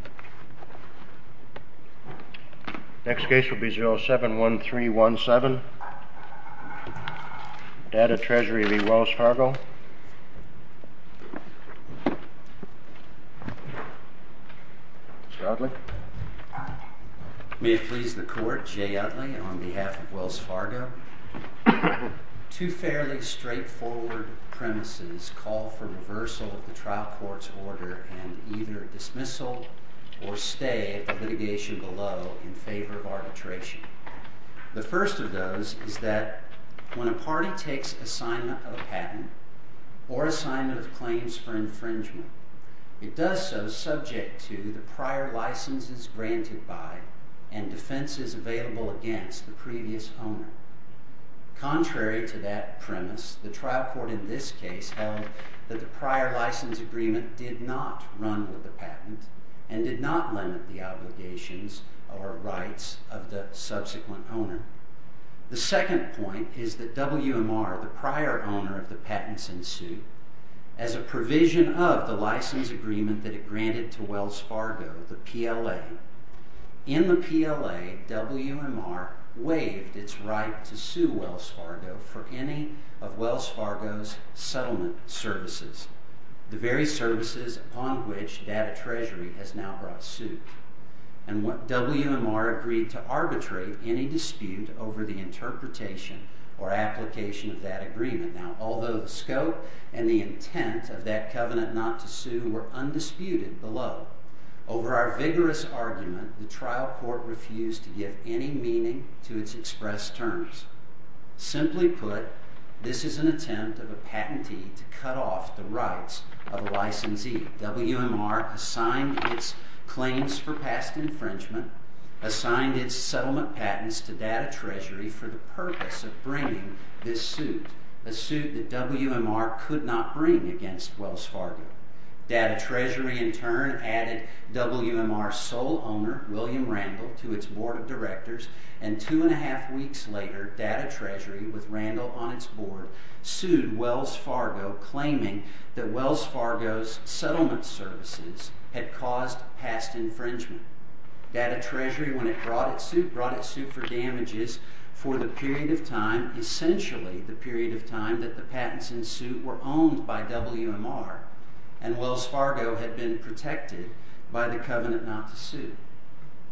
May it please the Court, Jay Utley, on behalf of Wells Fargo. Two fairly straight-forward premises call for reversal of the trial court's order and either dismissal or stay at the litigation below in favor of arbitration. The first of those is that when a party takes assignment of a patent or assignment of claims for infringement, it does so subject to the prior licenses granted by and defenses available against the previous owner. Contrary to that case held that the prior license agreement did not run with the patent and did not limit the obligations or rights of the subsequent owner. The second point is that WMR, the prior owner of the patents in suit, as a provision of the license agreement that it granted to Wells Fargo, the PLA, in the PLA WMR waived its right to sue Wells Fargo for any of Wells Fargo's settlement services, the very services upon which Data Treasury has now brought suit. WMR agreed to arbitrate any dispute over the interpretation or application of that agreement. Although the scope and the intent of that covenant not to sue were undisputed below, over our vigorous argument, the trial court refused to give any meaning to its expressed terms. Simply put, this is an attempt of a patentee to cut off the rights of a licensee. WMR assigned its claims for past infringement, assigned its settlement patents to Data Treasury for the purpose of bringing this suit, a suit that WMR could not bring against Wells Fargo. Data Treasury in turn added WMR's sole owner, William Randle, to its board of directors and two and a half weeks later, Data Treasury, with Randle on its board, sued Wells Fargo claiming that Wells Fargo's settlement services had caused past infringement. Data Treasury, when it brought its suit, brought its suit for damages for the period of time, essentially the period of time that the patents in suit were owned by WMR, and Wells Fargo had been protected by the covenant not to sue.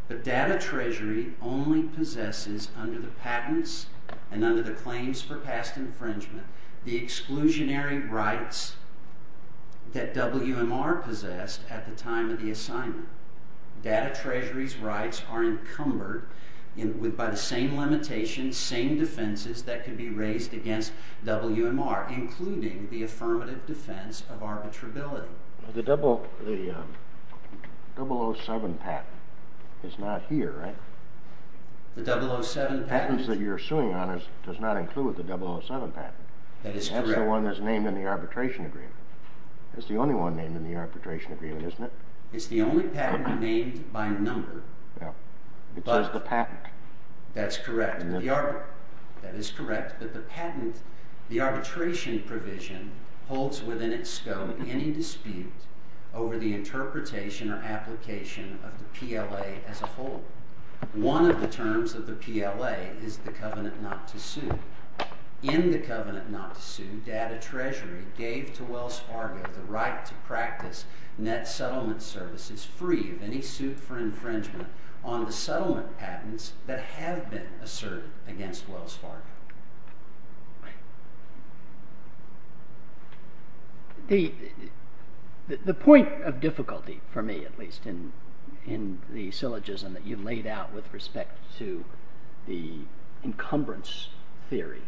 But Data Treasury only possesses under the patents and under the claims for past infringement the exclusionary rights that WMR possessed at the time of the assignment. Data Treasury's rights are encumbered by the same limitations, same defenses that could be raised against WMR, including the affirmative defense of arbitrability. The 007 patent is not here, right? The 007 patent? The patents that you're suing on does not include the 007 patent. That is correct. That's the one that's named in the arbitration agreement. That's the only one named in the arbitration agreement, isn't it? It's the only patent named by number. It says the patent. That's correct. That is correct, but the patent, the arbitration provision, holds within its scope any dispute over the interpretation or application of the PLA as a whole. One of the terms of the PLA is the covenant not to sue. In the covenant not to sue, Data Treasury gave to Wells Fargo the right to practice net settlement services free of any suit for infringement on the settlement patents that have been asserted against Wells Fargo. The point of difficulty, for me at least, in the syllogism that you laid out with respect to the encumbrance theory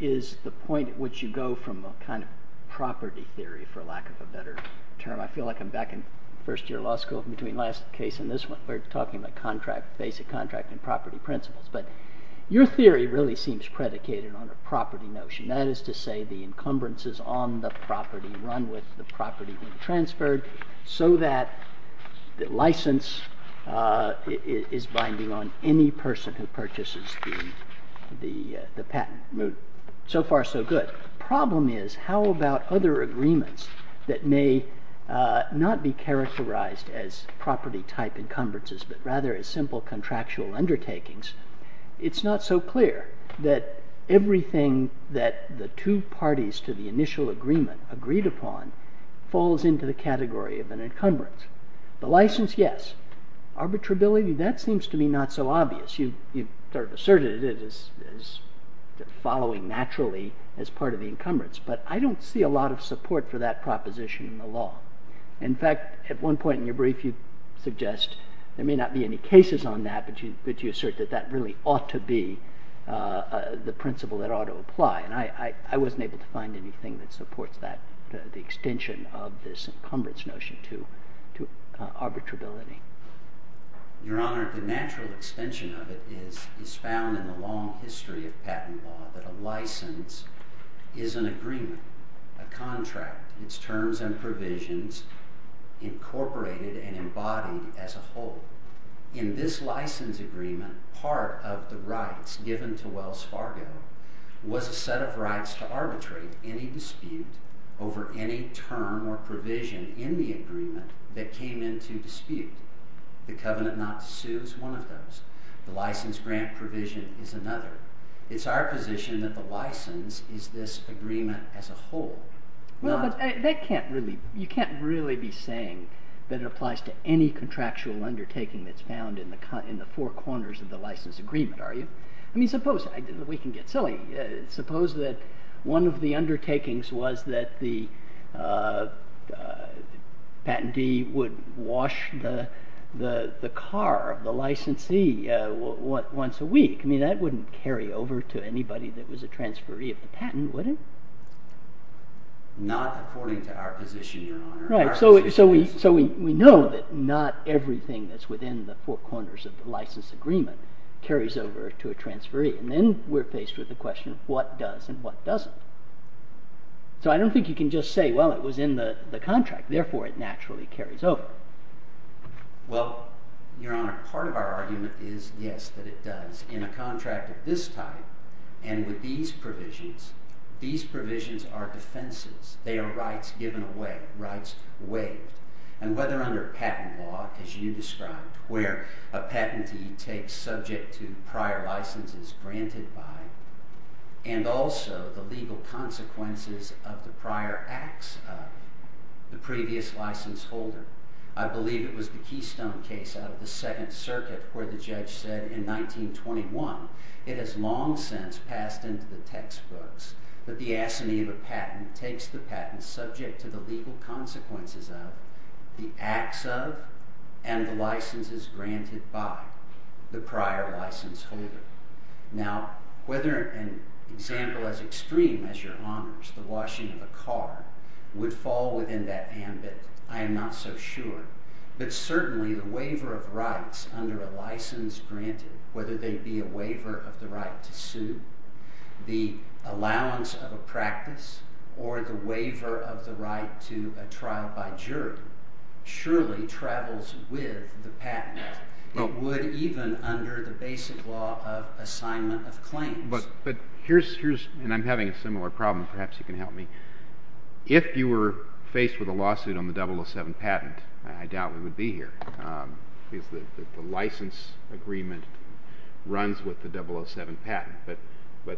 is the point at which you go from a kind of property theory, for lack of a better term. I feel like I'm back in first year law school between last case and this one. We're talking about contract, basic contract and property principles. But your theory really seems predicated on a property notion. That is to say the encumbrances on the property run with the property when transferred so that the license is binding on any person who purchases the patent. So far, so good. The problem is how about other agreements that may not be characterized as property type encumbrances but rather as simple contractual undertakings. It's not so clear that everything that the two parties to the initial agreement agreed upon falls into the category of an encumbrance. The license, yes. Arbitrability, that seems to be not so obvious. You sort of asserted it as following naturally as part of the encumbrance. But I don't see a lot of support for that proposition in the law. In fact, at one point in your brief you suggest there may not be any cases on that but you assert that that really ought to be the principle that ought to apply. And I wasn't able to find anything that supports that, the extension of this encumbrance notion to arbitrability. Your Honor, the natural extension of it is found in the long history of patent law that a license is an agreement, a contract, its terms and provisions incorporated and embodied as a whole. In this license agreement, part of the rights given to Wells Fargo was a set of rights to arbitrate any dispute over any term or provision in the agreement that came into dispute. The covenant not to sue is one of those. The license grant provision is another. It's our position that the license is this agreement as a whole. Well, but you can't really be saying that it applies to any contractual undertaking that's found in the four corners of the license agreement, are you? I mean, suppose, we can get silly, suppose that one of the undertakings was that the patentee would wash the car, the licensee, once a week. I mean, that wouldn't carry over to anybody that was a transferee of the patent, would it? Not according to our position, Your Honor. So we know that not everything that's within the four corners of the license agreement carries over to a transferee. And then we're faced with the question of what does and what doesn't. So I don't think you can just say, well, it was in the contract, therefore it naturally carries over. Well, Your Honor, part of our argument is yes, that it does. In a contract of this type and with these provisions, these provisions are defenses. They are rights given away, rights waived. And whether under patent law, as you described, where a patentee takes subject to prior licenses granted by and also the legal consequences of the prior acts of the previous license holder. I believe it was the Keystone case out of the Second Circuit where the judge said in 1921, it has long since passed into the textbooks that the assignee of a patent takes the patent subject to the legal consequences of the acts of and the licenses granted by the prior license holder. Now, whether an example as extreme as Your Honors, the washing of a car, would fall within that ambit, I am not so sure. But certainly the waiver of rights under a license granted, whether they be a waiver of the right to sue, the allowance of a practice, or the waiver of the right to a trial by jury, surely travels with the patent. It would even under the basic law of assignment of claims. But here's, and I'm having a similar problem. Perhaps you can help me. If you were faced with a lawsuit on the 007 patent, I doubt we would be here. Because the license agreement runs with the 007 patent. But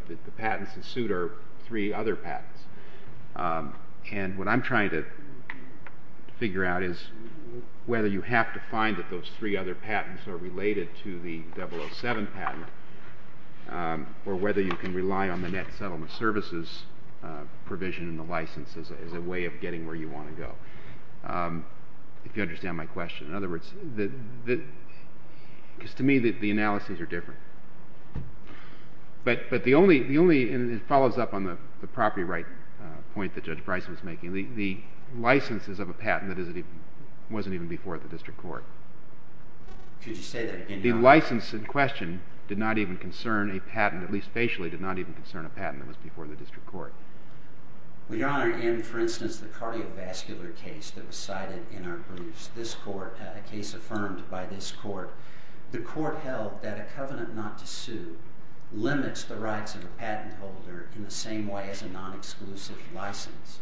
the patents in suit are three other patents. And what I'm trying to figure out is whether you have to find that those three other patents are related to the 007 patent, or whether you can rely on the Net Settlement Services provision and the license as a way of getting where you want to go. If you understand my question. In other words, because to me the analyses are different. But the only, and it follows up on the property right point that Judge Bryce was making, the licenses of a patent that wasn't even before the district court. The license in question did not even concern a patent, at least facially did not even concern a patent that was before the district court. We are in, for instance, the cardiovascular case that was cited in our briefs. This court, a case affirmed by this court. The court held that a covenant not to sue limits the rights of a patent holder in the same way as a non-exclusive license.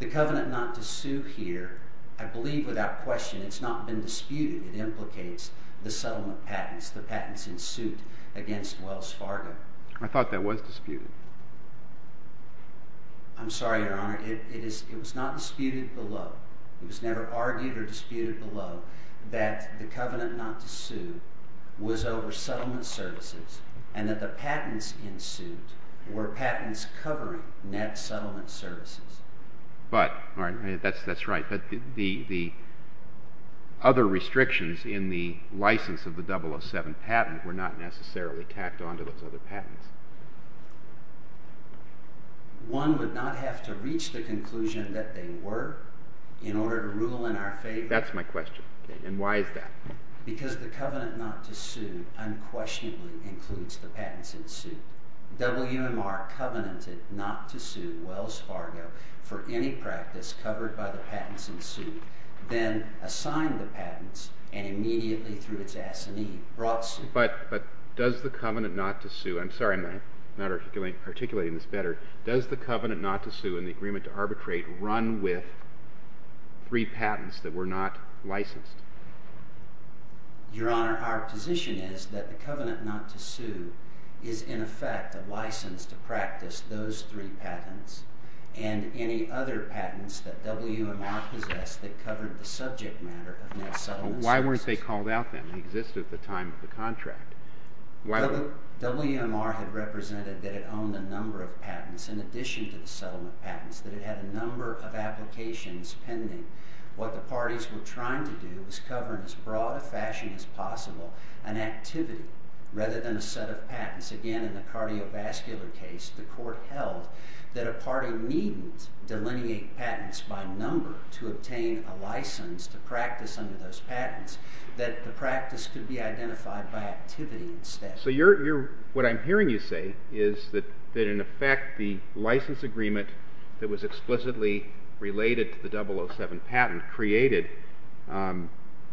The covenant not to sue here, I believe without question, it's not been disputed. It implicates the settlement patents, the patents in suit against Wells Fargo. I thought that was disputed. I'm sorry, Your Honor. It was not disputed below. It was never argued or disputed below that the covenant not to sue was over settlement services and that the patents in suit were patents covering net settlement services. But that's right. The other restrictions in the license of the 007 patent were not necessarily tacked onto those other patents. One would not have to reach the conclusion that they were in order to rule in our favor. That's my question. And why is that? Because the covenant not to sue unquestionably includes the patents in suit. WMR covenanted not to sue Wells Fargo for any practice covered by the patents in suit, then assigned the patents, and immediately through its assignee brought suit. But does the covenant not to sue? I'm sorry, I'm not articulating this better. Does the covenant not to sue and the agreement to arbitrate run with three patents that were not licensed? Your Honor, our position is that the covenant not to sue is, in effect, a license to practice those three patents and any other patents that WMR possessed that covered the subject matter of net settlement services. But why weren't they called out then? They existed at the time of the contract. WMR had represented that it owned a number of patents in addition to the settlement patents, that it had a number of applications pending. What the parties were trying to do was cover in as broad a fashion as possible an activity rather than a set of patents. Again, in the cardiovascular case, the court held that a party needn't delineate patents by number to obtain a license to practice under those patents, that the practice could be identified by activity instead. So what I'm hearing you say is that, in effect, the license agreement that was explicitly related to the 007 patent created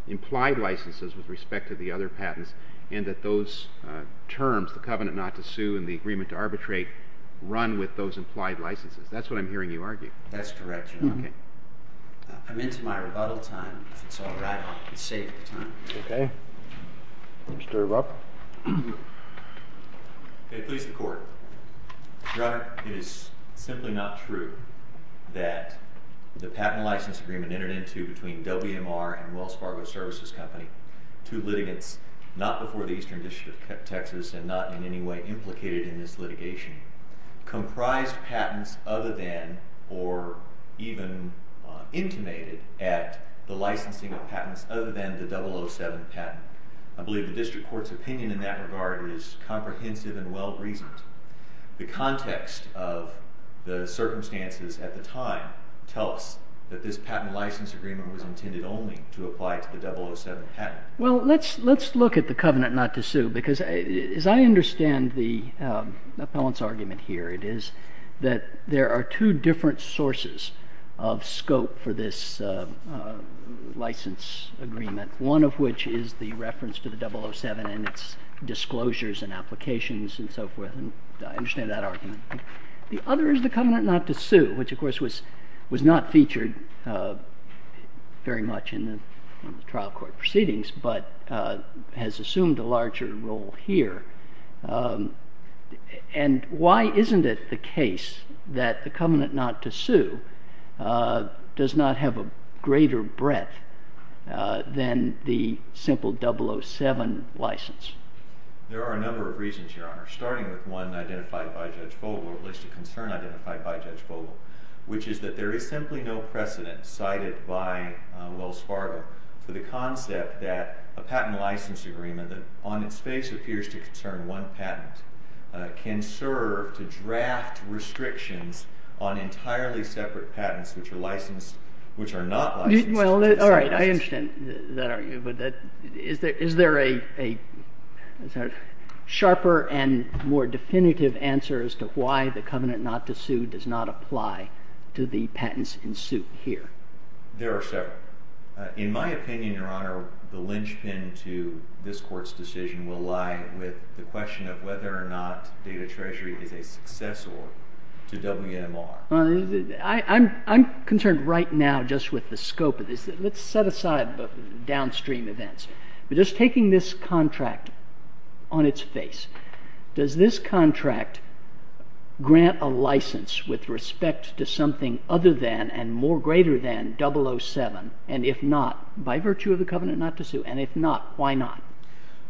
implied licenses with respect to the other patents, and that those terms, the covenant not to sue and the agreement to arbitrate, run with those implied licenses. That's what I'm hearing you argue. That's correct, Your Honor. I'm into my rebuttal time. If it's all right, I'll save the time. OK. Mr. Rupp? May it please the Court. Your Honor, it is simply not true that the patent license agreement entered into between WMR and Wells Fargo Services Company, two litigants not before the Eastern District of Texas and not in any way implicated in this litigation, comprised patents other than or even intimated at the licensing of patents other than the 007 patent. I believe the district court's opinion in that regard is comprehensive and well-reasoned. The context of the circumstances at the time tell us that this patent license agreement was intended only to apply to the 007 patent. Well, let's look at the covenant not to sue, because as I understand the appellant's argument here, it is that there are two different sources of scope for this license agreement, one of which is the reference to the 007 and its disclosures and applications and so forth. And I understand that argument. The other is the covenant not to sue, which of course was not featured very much in the trial court proceedings, but has assumed a larger role here. And why isn't it the case that the covenant not to sue does not have a greater breadth than the simple 007 license? There are a number of reasons, Your Honor, starting with one identified by Judge Vogel, at least a concern identified by Judge Vogel, which is that there is simply no precedent cited by Wells Fargo for the concept that a patent license agreement that on its face appears to concern one patent can serve to draft restrictions on entirely separate patents which are licensed, which are not licensed. Well, all right. I understand that argument. But is there a sharper and more definitive answer as to why the covenant not to sue does not apply to the patents in suit here? There are several. In my opinion, Your Honor, the linchpin to this court's decision will lie with the question of whether or not Data Treasury is a successor to WMR. I'm concerned right now just with the scope of this. Let's set aside the downstream events. But just taking this contract on its face, does this contract grant a license with respect to something other than and more greater than 007? And if not, by virtue of the covenant not to sue? And if not, why not?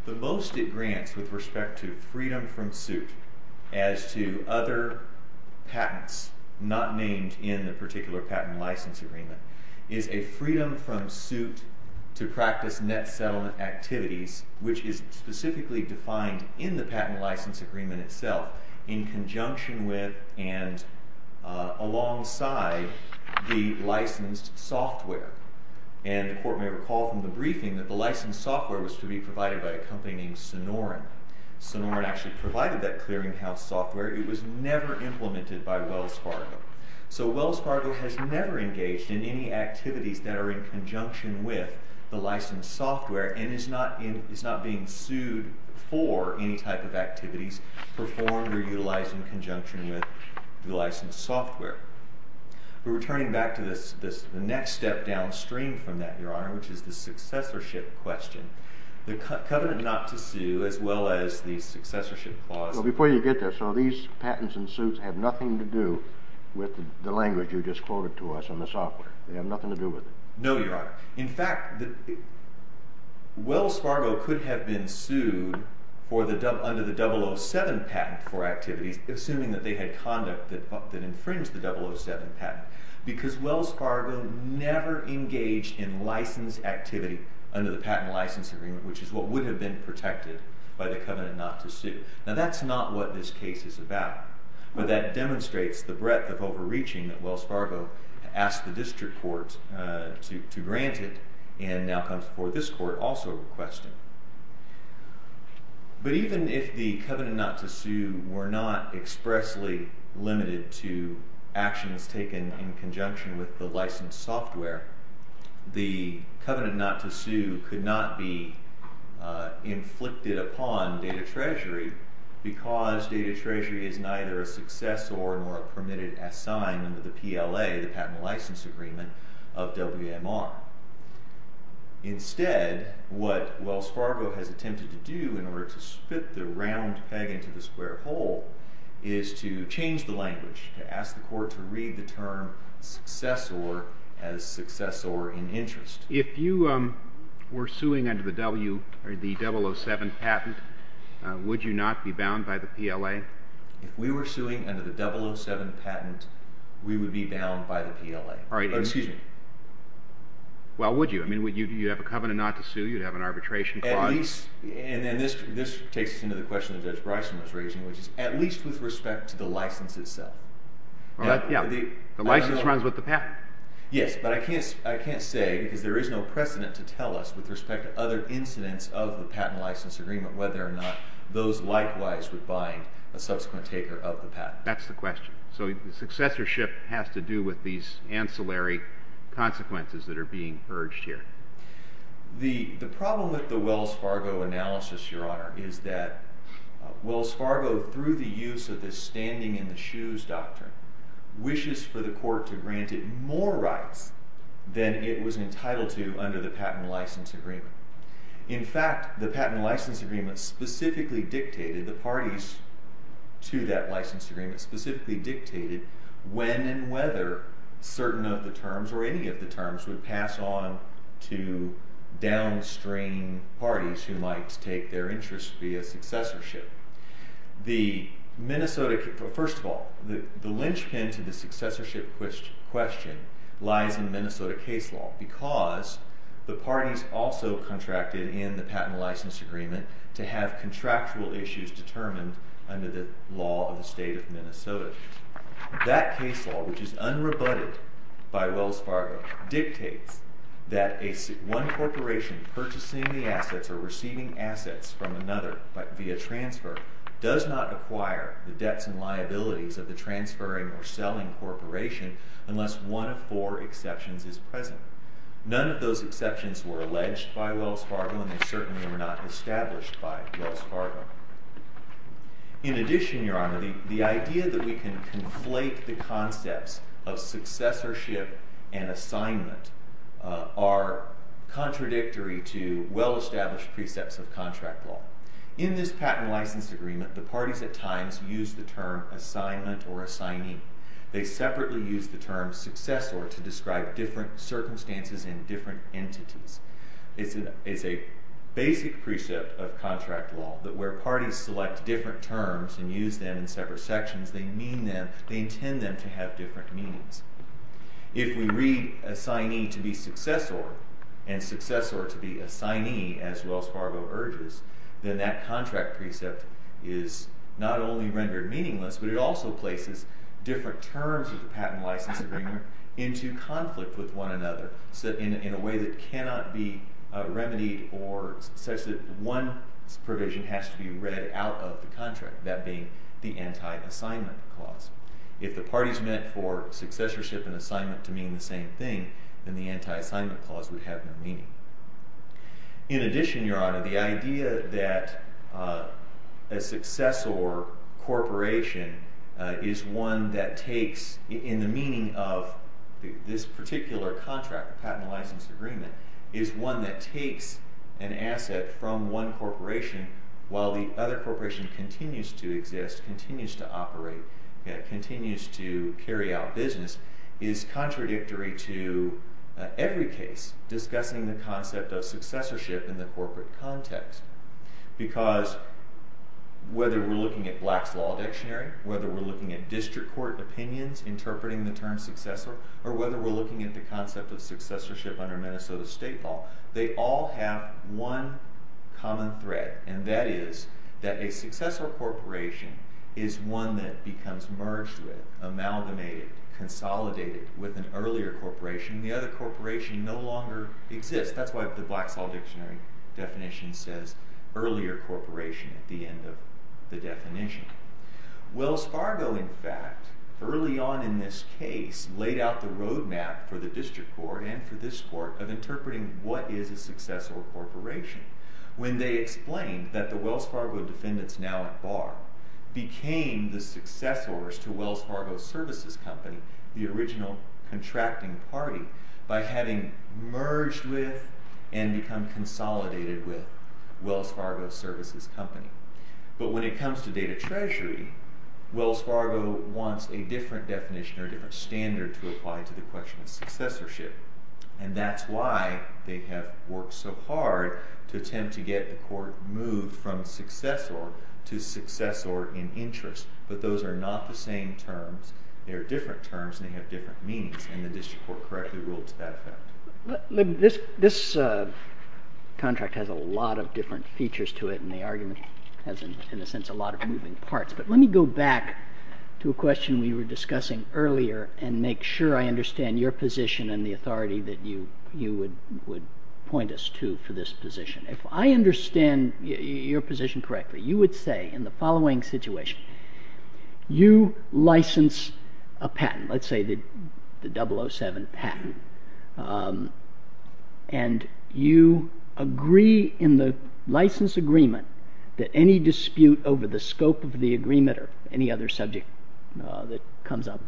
The most it grants with respect to freedom from suit as to other patents not named in the particular patent license agreement is a freedom from suit to practice net settlement activities, which is specifically defined in the patent license agreement itself in conjunction with and alongside the licensed software. And the court may recall from the briefing that the licensed software was to be provided by a company named Sonoran. Sonoran actually provided that clearinghouse software. It was never implemented by Wells Fargo. So Wells Fargo has never engaged in any activities that are in conjunction with the licensed software and is not being sued for any type of activities performed or utilized in conjunction with the licensed software. We're returning back to the next step downstream from that, Your Honor, which is the successorship question. The covenant not to sue as well as the successorship clause. Well, before you get there, so these patents and suits have nothing to do with the language you just quoted to us on the software. They have nothing to do with it. No, Your Honor. In fact, Wells Fargo could have been sued under the 007 patent for activities, assuming that they had conduct that infringed the 007 patent, because Wells Fargo never engaged in licensed activity under the patent license agreement, which is what would have been protected by the covenant not to sue. Now, that's not what this case is about. But that demonstrates the breadth of overreaching that Wells Fargo asked the district court to grant it and now comes before this court also requesting. But even if the covenant not to sue were not expressly limited to actions taken in conjunction with the licensed software, the covenant not to sue could not be inflicted upon Data Treasury because Data Treasury is neither a successor nor a permitted assignment of the PLA, the patent license agreement, of WMR. Instead, what Wells Fargo has attempted to do in order to spit the round peg into the square hole is to change the language, to ask the court to read the term successor as successor in interest. If you were suing under the 007 patent, would you not be bound by the PLA? If we were suing under the 007 patent, we would be bound by the PLA. Excuse me. Well, would you? You'd have a covenant not to sue. You'd have an arbitration clause. And this takes us into the question that Judge Bryson was raising, which is at least with respect to the license itself. Yeah, the license runs with the patent. to tell us with respect to other incidents of the patent license agreement whether or not those likewise would bind a subsequent taker of the patent. That's the question. So successorship has to do with these ancillary consequences that are being urged here. The problem with the Wells Fargo analysis, Your Honor, is that Wells Fargo, through the use of this standing in the shoes doctrine, wishes for the court to grant it more rights than it was entitled to under the patent license agreement. In fact, the patent license agreement specifically dictated, the parties to that license agreement specifically dictated when and whether certain of the terms or any of the terms would pass on to downstream parties who might take their interest via successorship. First of all, the linchpin to the successorship question lies in Minnesota case law because the parties also contracted in the patent license agreement to have contractual issues determined under the law of the state of Minnesota. That case law, which is unrebutted by Wells Fargo, dictates that one corporation purchasing the assets or receiving assets from another via transfer does not acquire the debts and liabilities of the transferring or selling corporation unless one of four exceptions is present. None of those exceptions were alleged by Wells Fargo and they certainly were not established by Wells Fargo. In addition, Your Honor, the idea that we can conflate the concepts of successorship and assignment are contradictory to well-established precepts of contract law. In this patent license agreement, the parties at times use the term assignment or assignee. They separately use the term successor to describe different circumstances and different entities. It's a basic precept of contract law that where parties select different terms and use them in separate sections, they mean them, they intend them to have different meanings. If we read assignee to be successor and successor to be assignee, as Wells Fargo urges, then that contract precept is not only rendered meaningless, but it also places different terms of the patent license agreement into conflict with one another in a way that cannot be remedied or such that one provision has to be read out of the contract, that being the anti-assignment clause. If the parties meant for successorship and assignment to mean the same thing, then the anti-assignment clause would have no meaning. In addition, Your Honor, the idea that a successor corporation is one that takes, in the meaning of this particular contract, patent license agreement, is one that takes an asset from one corporation while the other corporation continues to exist, continues to operate, continues to carry out business, is contradictory to every case discussing the concept of successorship in the corporate context. Because whether we're looking at Black's Law Dictionary, whether we're looking at district court opinions interpreting the term successor, or whether we're looking at the concept of successorship under Minnesota State law, they all have one common thread, and that is that a successor corporation is one that becomes merged with, amalgamated, consolidated with an earlier corporation and the other corporation no longer exists. That's why the Black's Law Dictionary definition says earlier corporation at the end of the definition. Wells Fargo, in fact, early on in this case, laid out the roadmap for the district court and for this court of interpreting what is a successor corporation when they explained that the Wells Fargo defendants now at bar became the successors to Wells Fargo Services Company, the original contracting party, by having merged with and become consolidated with Wells Fargo Services Company. But when it comes to data treasury, Wells Fargo wants a different definition or a different standard to apply to the question of successorship, and that's why they have worked so hard to attempt to get the court moved from successor to successor in interest. But those are not the same terms. They are different terms, and they have different meanings, and the district court correctly ruled to that effect. This contract has a lot of different features to it, and the argument has, in a sense, a lot of moving parts. But let me go back to a question we were discussing earlier and make sure I understand your position and the authority that you would point us to for this position. If I understand your position correctly, you would say in the following situation, you license a patent, let's say the 007 patent, and you agree in the license agreement that any dispute over the scope of the agreement or any other subject that comes up,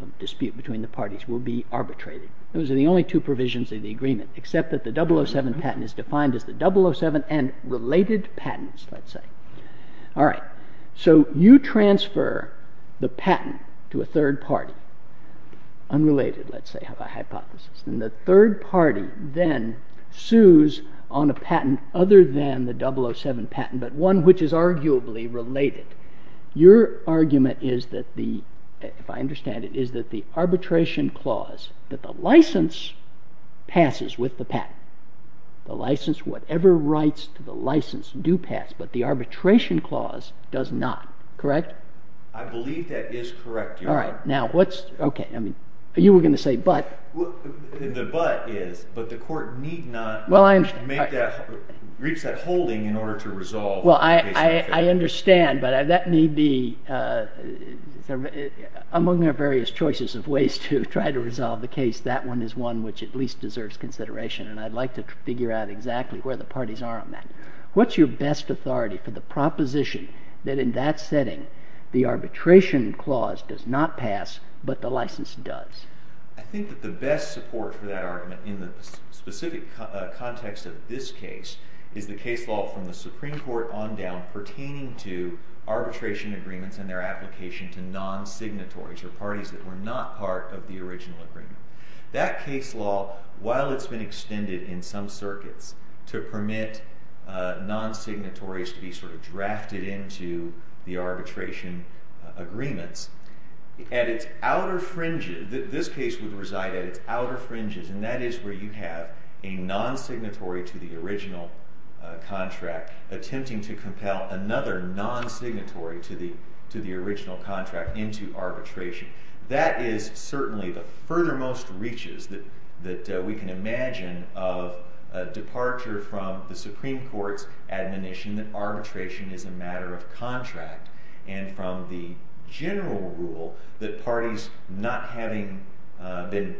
a dispute between the parties, will be arbitrated. Those are the only two provisions of the agreement, except that the 007 patent is defined as the 007 and related patents, let's say. All right. So you transfer the patent to a third party, unrelated, let's say, hypothesis, and the third party then sues on a patent other than the 007 patent, but one which is arguably related. Your argument is that the, if I understand it, is that the arbitration clause that the license passes with the patent, the license, whatever rights to the license do pass, but the arbitration clause does not. Correct? I believe that is correct, Your Honor. All right. Now, what's, okay, I mean, you were going to say but. The but is, but the court need not make that, reach that holding in order to resolve the case. Well, I understand, but that need be, among their various choices of ways to try to resolve the case, that one is one which at least deserves consideration, and I'd like to figure out exactly where the parties are on that. What's your best authority for the proposition that in that setting, the arbitration clause does not pass, but the license does? I think that the best support for that argument in the specific context of this case is the case law from the Supreme Court on down pertaining to arbitration agreements and their application to non-signatories, or parties that were not part of the original agreement. That case law, while it's been extended in some circuits to permit non-signatories to be sort of drafted into the arbitration agreements, at its outer fringes, this case would reside at its outer fringes, and that is where you have a non-signatory to the original contract attempting to compel another non-signatory to the original contract into arbitration. That is certainly the furthermost reaches that we can imagine of a departure from the Supreme Court's admonition that arbitration is a matter of contract, and from the general rule that parties not having been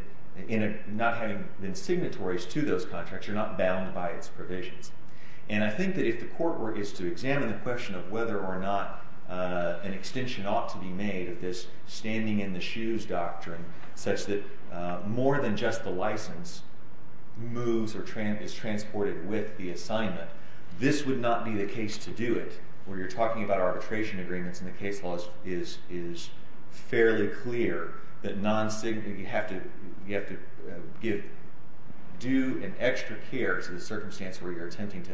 signatories to those contracts are not bound by its provisions. I think that if the court were to examine the question of whether or not an extension ought to be made of this standing in the shoes doctrine, such that more than just the license moves or is transported with the assignment, this would not be the case to do it, where you're talking about arbitration agreements and the case law is fairly clear that you have to give due and extra care to the circumstance where you're attempting to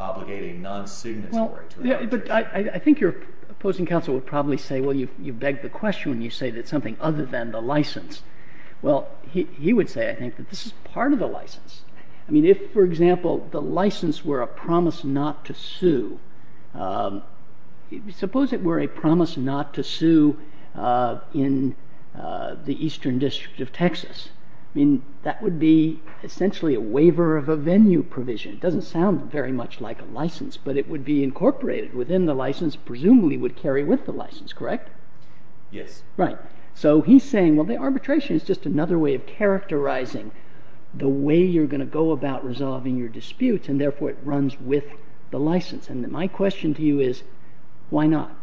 obligate a non-signatory to a contract. But I think your opposing counsel would probably say, well, you beg the question when you say that it's something other than the license. Well, he would say, I think, that this is part of the license. I mean, if, for example, the license were a promise not to sue, suppose it were a promise not to sue in the Eastern District of Texas. I mean, that would be essentially a waiver of a venue provision. It doesn't sound very much like a license, but it would be incorporated within the license, presumably would carry with the license, correct? Yes. Right. So he's saying, well, the arbitration is just another way of characterizing the way you're going to go about resolving your disputes, and therefore it runs with the license. And my question to you is, why not?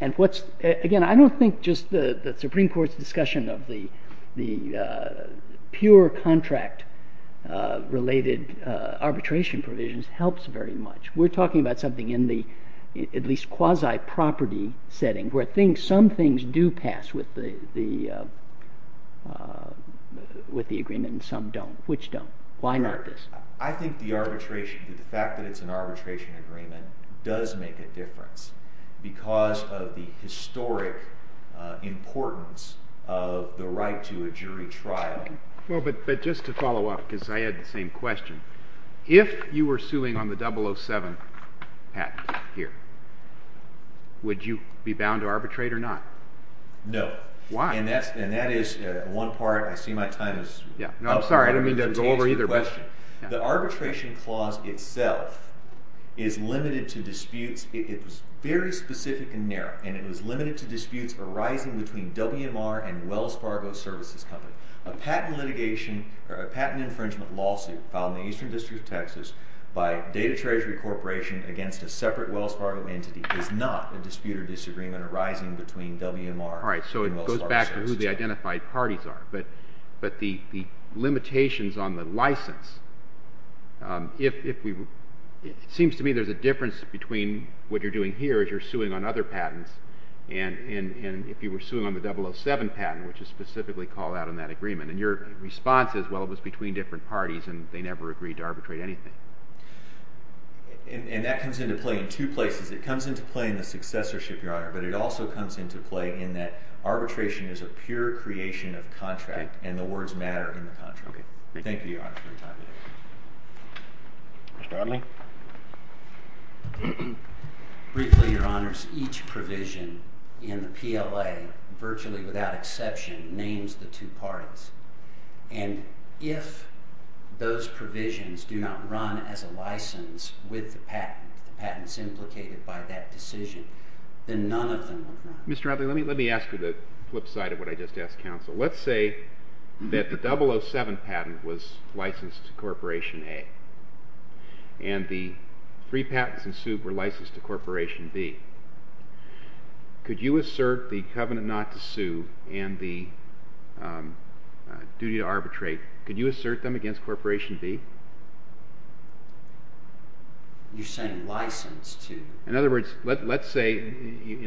And again, I don't think just the Supreme Court's discussion of the pure contract-related arbitration provisions helps very much. We're talking about something in the at least quasi-property setting, where some things do pass with the agreement and some don't. Which don't? Why not this? I think the arbitration, the fact that it's an arbitration agreement, does make a difference because of the historic importance of the right to a jury trial. Well, but just to follow up, because I had the same question, if you were suing on the 007 patent here, would you be bound to arbitrate or not? No. Why? And that is one part. I see my time is up. No, I'm sorry. I didn't mean to go over either question. The arbitration clause itself is limited to disputes. It's very specific and narrow. And it is limited to disputes arising between WMR and Wells Fargo Services Company. A patent infringement lawsuit filed in the Eastern District of Texas by Data Treasury Corporation against a separate Wells Fargo entity is not a dispute or disagreement arising between WMR and Wells Fargo Services. All right, so it goes back to who the identified parties are. But the limitations on the license, it seems to me there's a difference between what you're doing here as you're suing on other patents and if you were suing on the 007 patent, which is specifically called out in that agreement. And your response is, well, it was between different parties and they never agreed to arbitrate anything. And that comes into play in two places. It comes into play in the successorship, Your Honor, but it also comes into play in that arbitration is a pure creation of contract and the words matter in the contract. Thank you, Your Honor, for your time today. Mr. Arling? Briefly, Your Honors, each provision in the PLA, virtually without exception, names the two parties. And if those provisions do not run as a license with the patent, the patents implicated by that decision, then none of them will run. Mr. Arling, let me ask you the flip side of what I just asked counsel. Let's say that the 007 patent was licensed to Corporation A and the three patents ensued were licensed to Corporation B. Could you assert the covenant not to sue and the duty to arbitrate, could you assert them against Corporation B? You're saying license to? In other words, let's say,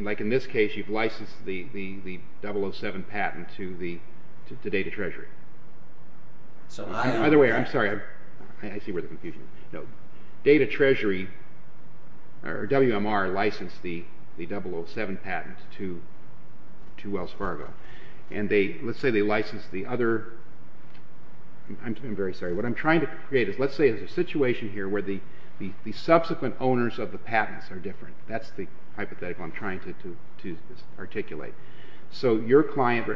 like in this case, you've licensed the 007 patent to Data Treasury. So I don't have to. By the way, I'm sorry. I see where the confusion is. No, Data Treasury, or WMR, licensed the 007 patent to Wells Fargo. I'm very sorry. What I'm trying to create is, let's say there's a situation here where the subsequent owners of the patents are different. That's the hypothetical I'm trying to articulate. So your client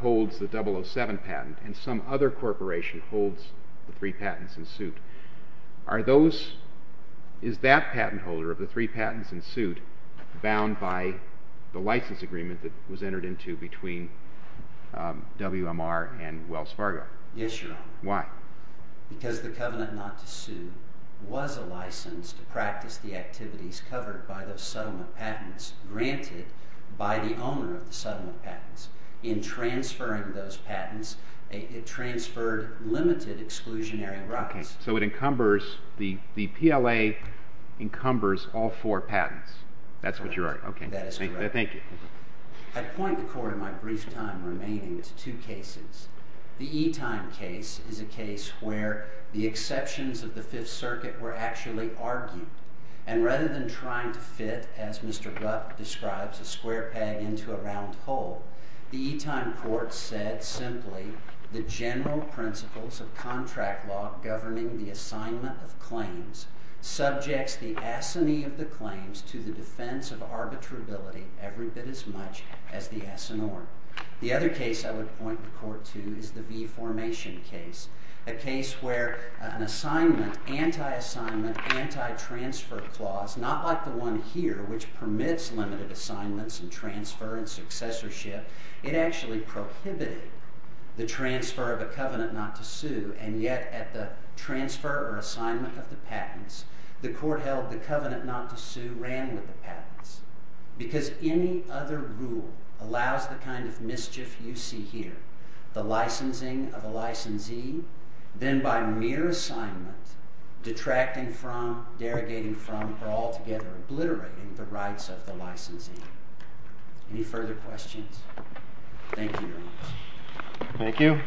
holds the 007 patent, and some other corporation holds the three patents ensued. Are those, is that patent holder of the three patents ensued bound by the license agreement that was entered into between WMR and Wells Fargo? Yes, Your Honor. Why? Because the covenant not to sue was a license to practice the activities covered by those settlement patents granted by the owner of the settlement patents. In transferring those patents, it transferred limited exclusionary rights. So it encumbers, the PLA encumbers all four patents. That's what you're arguing. That is correct. Thank you. I point the court in my brief time remaining to two cases. The E-Time case is a case where the exceptions of the Fifth Circuit were actually argued. And rather than trying to fit, as Mr. Rupp describes, a square peg into a round hole, the E-Time court said simply, the general principles of contract law governing the assignment of claims subjects the assignee of the claims to the defense of arbitrability every bit as much as the assignor. The other case I would point the court to is the V-Formation case, a case where an assignment, anti-assignment, anti-transfer clause, not like the one here, which permits limited assignments prohibited the transfer of a covenant not to sue. And yet, at the transfer or assignment of the patents, the court held the covenant not to sue ran with the patents. Because any other rule allows the kind of mischief you see here, the licensing of a licensee, then by mere assignment, detracting from, derogating from, or altogether obliterating the rights of the licensee. Any further questions? Thank you very much. Thank you.